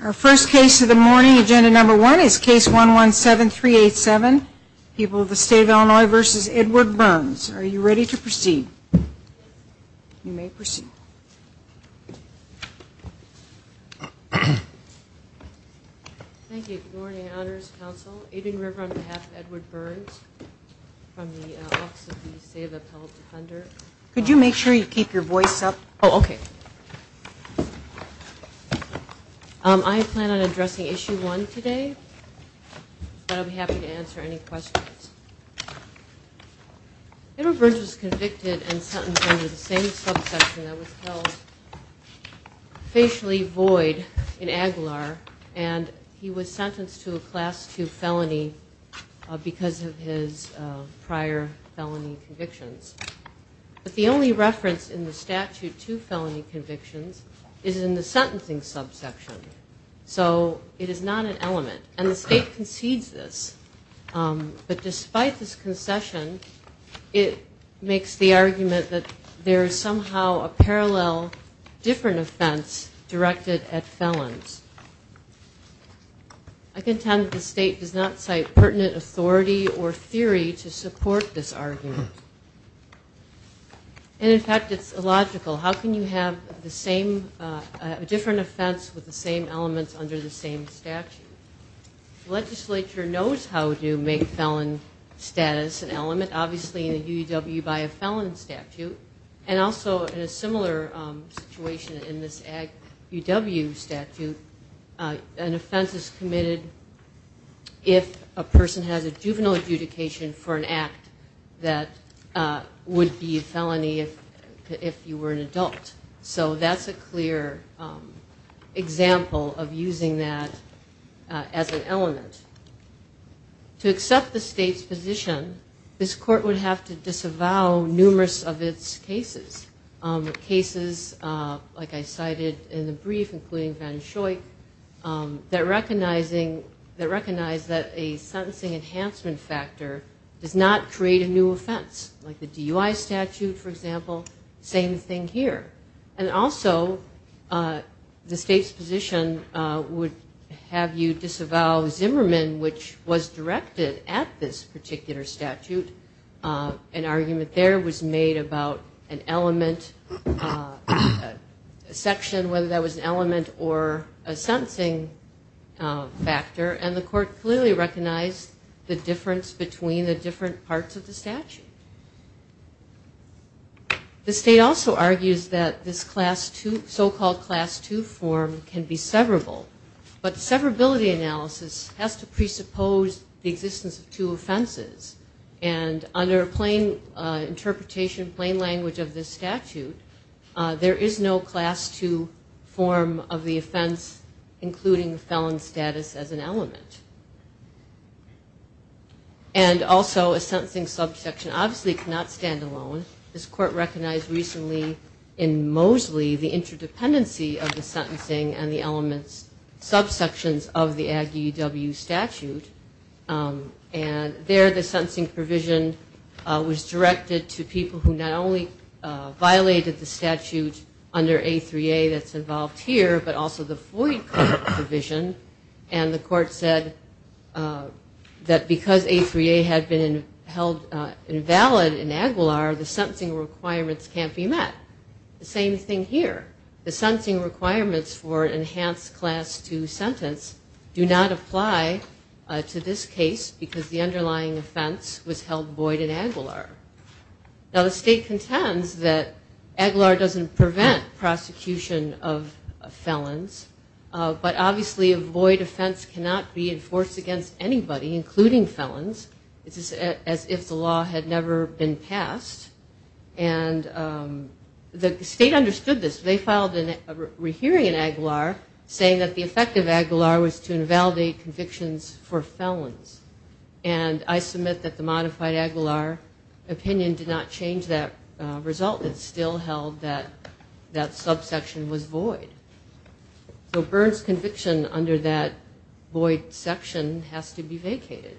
Our first case of the morning, agenda number one, is case 117387, people of the state of Illinois v. Edward Burns. Are you ready to proceed? You may proceed. Thank you. Good morning, Honors Council. Aiden River on behalf of Edward Burns from the Office of the State of Appellate Defender. Could you make sure you keep your voice up? Oh, okay. I plan on addressing issue one today, but I'll be happy to answer any questions. Edward Burns was convicted and sentenced under the same subsection that was held facially void in Aguilar, and he was sentenced to a class two felony because of his prior felony convictions. But the only reference in the statute to felony convictions is in the sentencing subsection. So it is not an element, and the state concedes this. But despite this concession, it makes the argument that there is somehow a parallel, different offense directed at felons. I contend the state does not cite pertinent authority or theory to support this argument. And in fact, it's illogical. How can you have the same, a different offense with the same elements under the same statute? The legislature knows how to make felon status an element, obviously in a UW by a felon statute, and also in a similar situation in this UW statute, an offense is committed if a person has a juvenile adjudication for an act that would be a felony if you were an adult. So that's a clear example of using that as an element. To accept the state's position, this court would have to disavow numerous of its cases, cases, like I cited in the brief, including Van Schoik, that recognize that a sentencing enhancement factor does not create a new offense, like the DUI statute, for example, same thing here. And also, the state's position would have you disavow Zimmerman, which was directed at this particular statute. An argument there was made about an element, a section, whether that was an element or a sentencing factor. And the court clearly recognized the difference between the different parts of the statute. The state also argues that this so-called Class II form can be severable, but severability analysis has to presuppose the existence of two offenses. And under plain interpretation, plain language of this statute, there is no Class II form of the offense, including felon status as an element. And also, a sentencing subsection obviously cannot stand alone. This court recognized recently in Mosley the interdependency of the sentencing and the elements, subsections of the Aggie W statute. And there, the sentencing provision was directed to people who not only violated the statute under A3A that's involved here, but also the Floyd Court provision. And the court said that because A3A had been held invalid in Aguilar, the sentencing requirements can't be met. The same thing here. The sentencing requirements for an enhanced Class II sentence do not apply to this case because the underlying offense was held void in Aguilar. Now, the state contends that Aguilar doesn't prevent prosecution of felons, but obviously a void offense cannot be enforced against anybody, including felons. It's as if the law had never been passed. And the state understood this. They filed a rehearing in Aguilar saying that the effect of Aguilar was to invalidate convictions for felons. And I submit that the modified Aguilar opinion did not change that result. It still held that that subsection was void. So Byrne's conviction under that void section has to be vacated.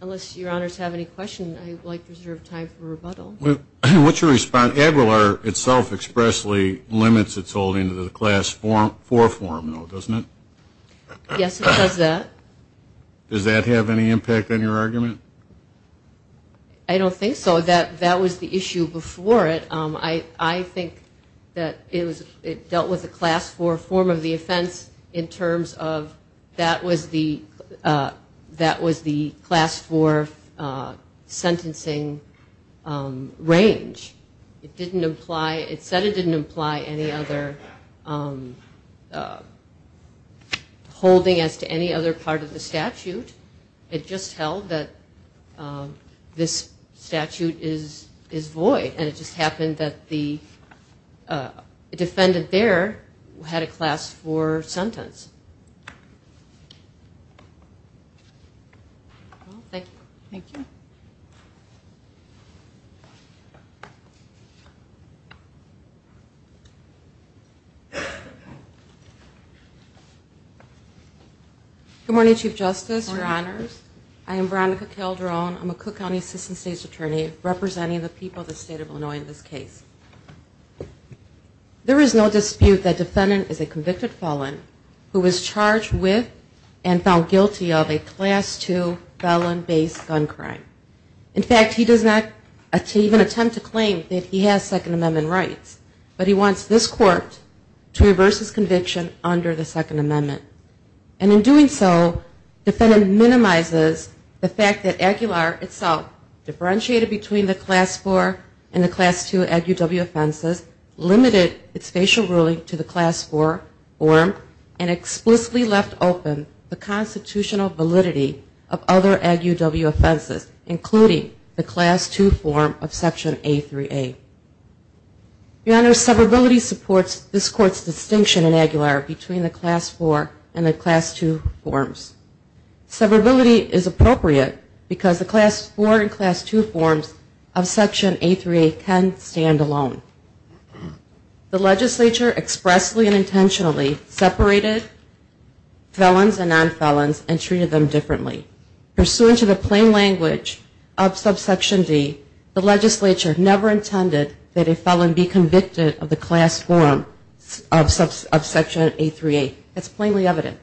Unless your honors have any questions, I would like to reserve time for rebuttal. What's your response? Aguilar itself expressly limits its holding to the Class IV form, though, doesn't it? Yes, it does that. Does that have any impact on your argument? I don't think so. That was the issue before it. I think that it dealt with the Class IV form of the offense in terms of that was the Class IV sentencing range. It said it didn't imply any other holding as to any other part of the statute. It just held that this statute is void. And it just happened that the defendant there had a Class IV sentence. Thank you. Thank you. Good morning, Chief Justice, your honors. I am Veronica Calderon. I'm a Cook County Assistant State's Attorney representing the people of the State of Illinois in this case. There is no dispute that defendant is a convicted felon who was charged with and found guilty of a Class II felon-based gun crime. In fact, he does not even attempt to claim that he has Second Amendment rights. But he wants this court to reverse his conviction under the Second Amendment. And in doing so, the defendant minimizes the fact that Aguilar itself differentiated between the Class IV and the Class II offenses, including the Class II form of Section A3A. Your honors, severability supports this court's distinction in Aguilar between the Class IV and the Class II forms. Severability is appropriate because the Class IV and Class II forms of Section A3A can stand alone. The legislature expressly and intentionally separated felons and nonfelons and treated them differently. Pursuant to the plain language of Subsection D, the legislature never intended that a felon be convicted of the Class IV of Section A3A. That's plainly evident.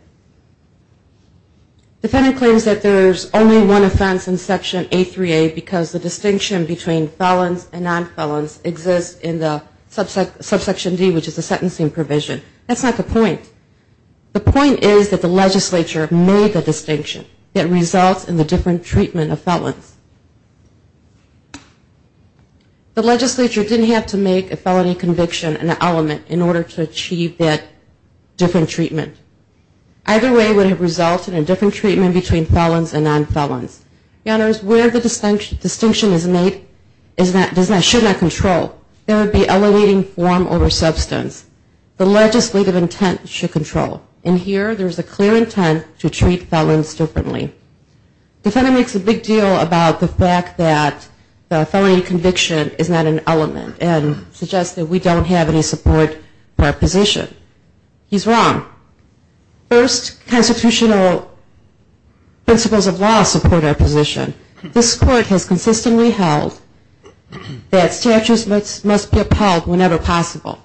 Defendant claims that there's only one offense in Section A3A because the distinction between felons and nonfelons exists in the Subsection D, which is the sentencing provision. That's not the point. The point is that the legislature made the distinction that results in the different treatment of felons. The legislature didn't have to make a felony conviction an element in order to achieve that different treatment. Either way would have resulted in different treatment between felons and nonfelons. Your honors, where the distinction is made should not control. There would be elevating form over substance. The legislative intent should control. In here, there's a clear intent to treat felons differently. Defendant makes a big deal about the fact that the felony conviction is not an element and suggests that we don't have any support for our position. He's wrong. First, constitutional principles of law support our position. This court has consistently held that statutes must be upheld whenever possible,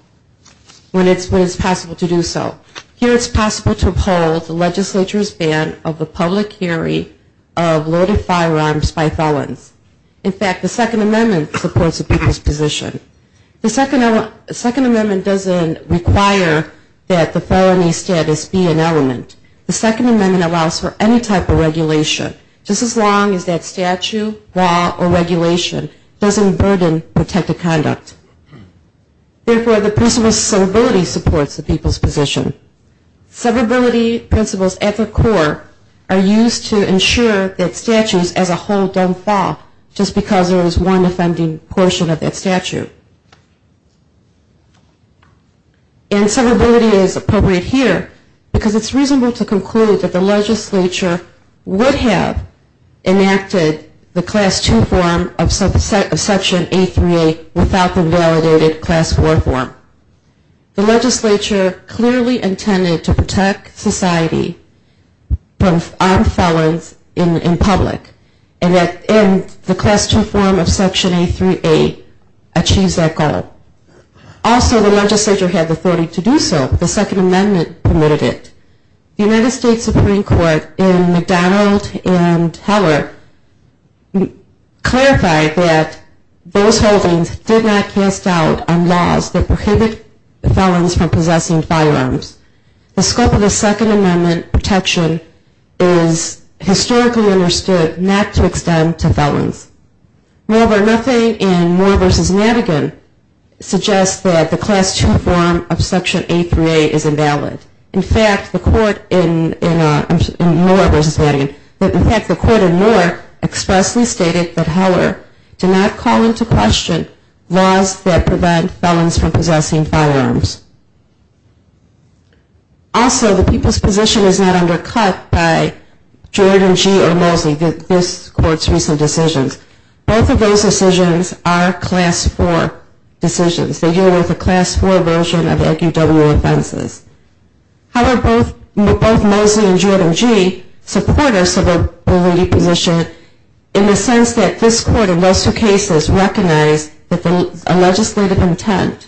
when it's possible to do so. Here it's possible to uphold the legislature's ban of the public hearing of loaded firearms by felons. In fact, the Second Amendment supports the people's position. The Second Amendment doesn't require that the felony status be an element. The Second Amendment allows for any type of regulation, just as long as that statute, law, or regulation doesn't burden protective conduct. Therefore, the principle of severability supports the people's position. Severability principles at the core are used to ensure that statutes as a whole don't fall just because there is one offending portion of that statute. And severability is appropriate here because it's reasonable to conclude that the legislature would have enacted the Class II form of Section 838 without the validated Class IV form. The legislature clearly intended to protect society from armed felons in public, and the Class II form of Section 838 achieves that goal. Also, the legislature had the authority to do so. The Second Amendment permitted it. The United States Supreme Court in McDonald v. Heller clarified that those holdings did not cast doubt on laws that prohibited felons from possessing firearms. The scope of the Second Amendment protection is historically understood not to extend to felons. Moreover, nothing in Moore v. Madigan suggests that the Class II form of Section 838 is invalid. In fact, the Court in Moore expressly stated that Heller did not call into question laws that prevent felons from possessing firearms. Also, the people's position is not undercut by Jordan, Gee, or Mosley, this Court's recent decisions. Both of those decisions are Class IV decisions. They deal with a Class IV version of FUW offenses. However, both Mosley and Jordan, Gee, support our severability position in the sense that this Court in those two cases recognized a legislative intent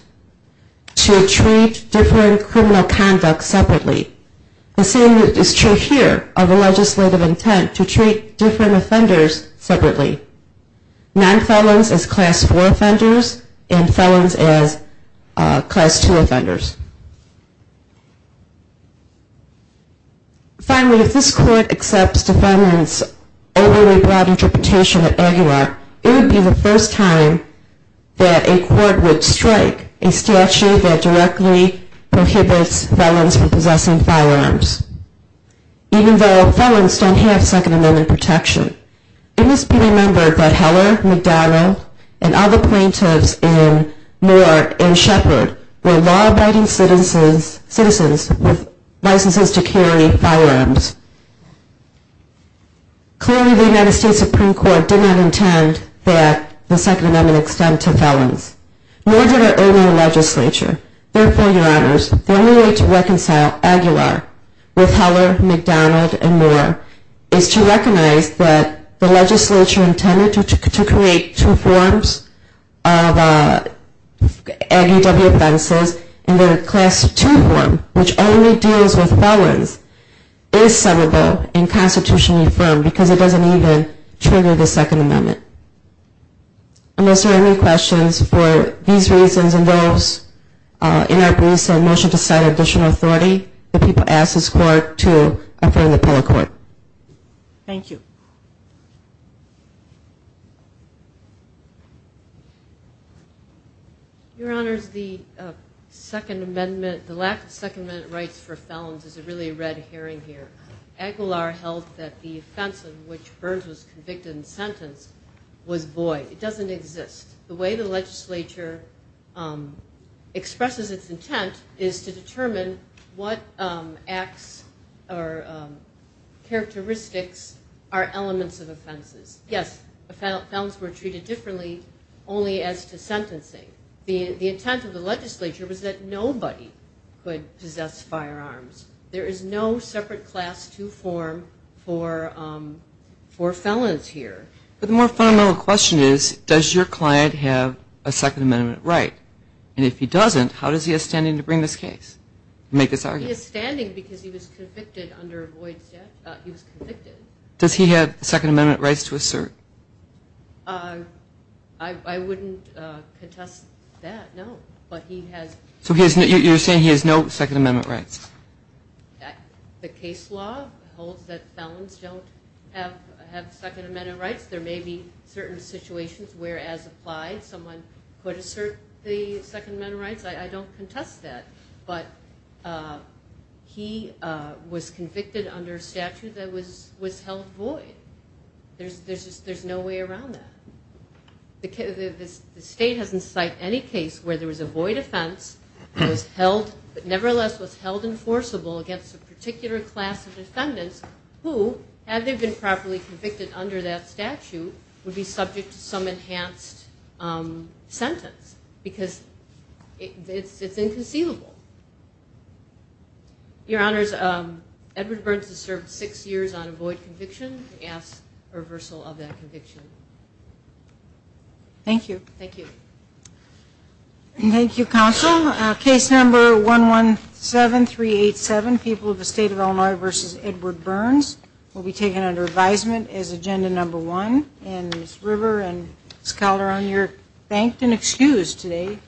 to treat different criminal conduct separately. The same is true here of a legislative intent to treat different offenders separately. Non-felons as Class IV offenders and felons as Class II offenders. Finally, if this Court accepts Defendant's overly broad interpretation of Aguilar, it would be the first time that a Court would strike a statute that directly prohibits felons from possessing firearms, even though felons don't have Second Amendment protection. It must be remembered that Heller, McDonald, and other plaintiffs in Moore and Shepard were law-abiding citizens with licenses to carry firearms. Clearly, the United States Supreme Court did not intend that the Second Amendment extend to felons. Nor did our earlier legislature. Therefore, Your Honors, the only way to reconcile Aguilar with Heller, McDonald, and Moore is to recognize that the legislature intended to create two forms of FUW offenses and that a Class II form, which only deals with felons, is severable and constitutionally affirmed because it doesn't even trigger the Second Amendment. Unless there are any questions, for these reasons and those in our briefs, I motion to sign additional authority. If people ask this Court to affirm the bill to the Court. Your Honors, the lack of Second Amendment rights for felons is a really red herring here. I think it's important to note that the first time Aguilar held that the offense of which Burns was convicted and sentenced was void. It doesn't exist. The way the legislature expresses its intent is to determine what acts or characteristics are elements of offenses. Yes, felons were treated differently only as to sentencing. But the more fundamental question is, does your client have a Second Amendment right? And if he doesn't, how does he have standing to bring this case? He has standing because he was convicted under a void statute. Does he have Second Amendment rights to assert? I wouldn't contest that, no. So you're saying he has no Second Amendment rights? The case law holds that felons don't have Second Amendment rights. There may be certain situations where, as applied, someone could assert the Second Amendment rights. I don't contest that. But he was convicted under a statute that was held void. There's no way around that. The state hasn't cited any case where there was a void offense that nevertheless was held enforceable against a particular class of defendants who, had they been properly convicted under that statute, would be subject to some enhanced sentence. Because it's inconceivable. Your Honors, Edward Burns has served six years on a void conviction. Thank you. Thank you, Counsel. Case number 117387, People of the State of Illinois v. Edward Burns will be taken under advisement as agenda number one. And Ms. River and Ms. Calderon, you're thanked and excused today.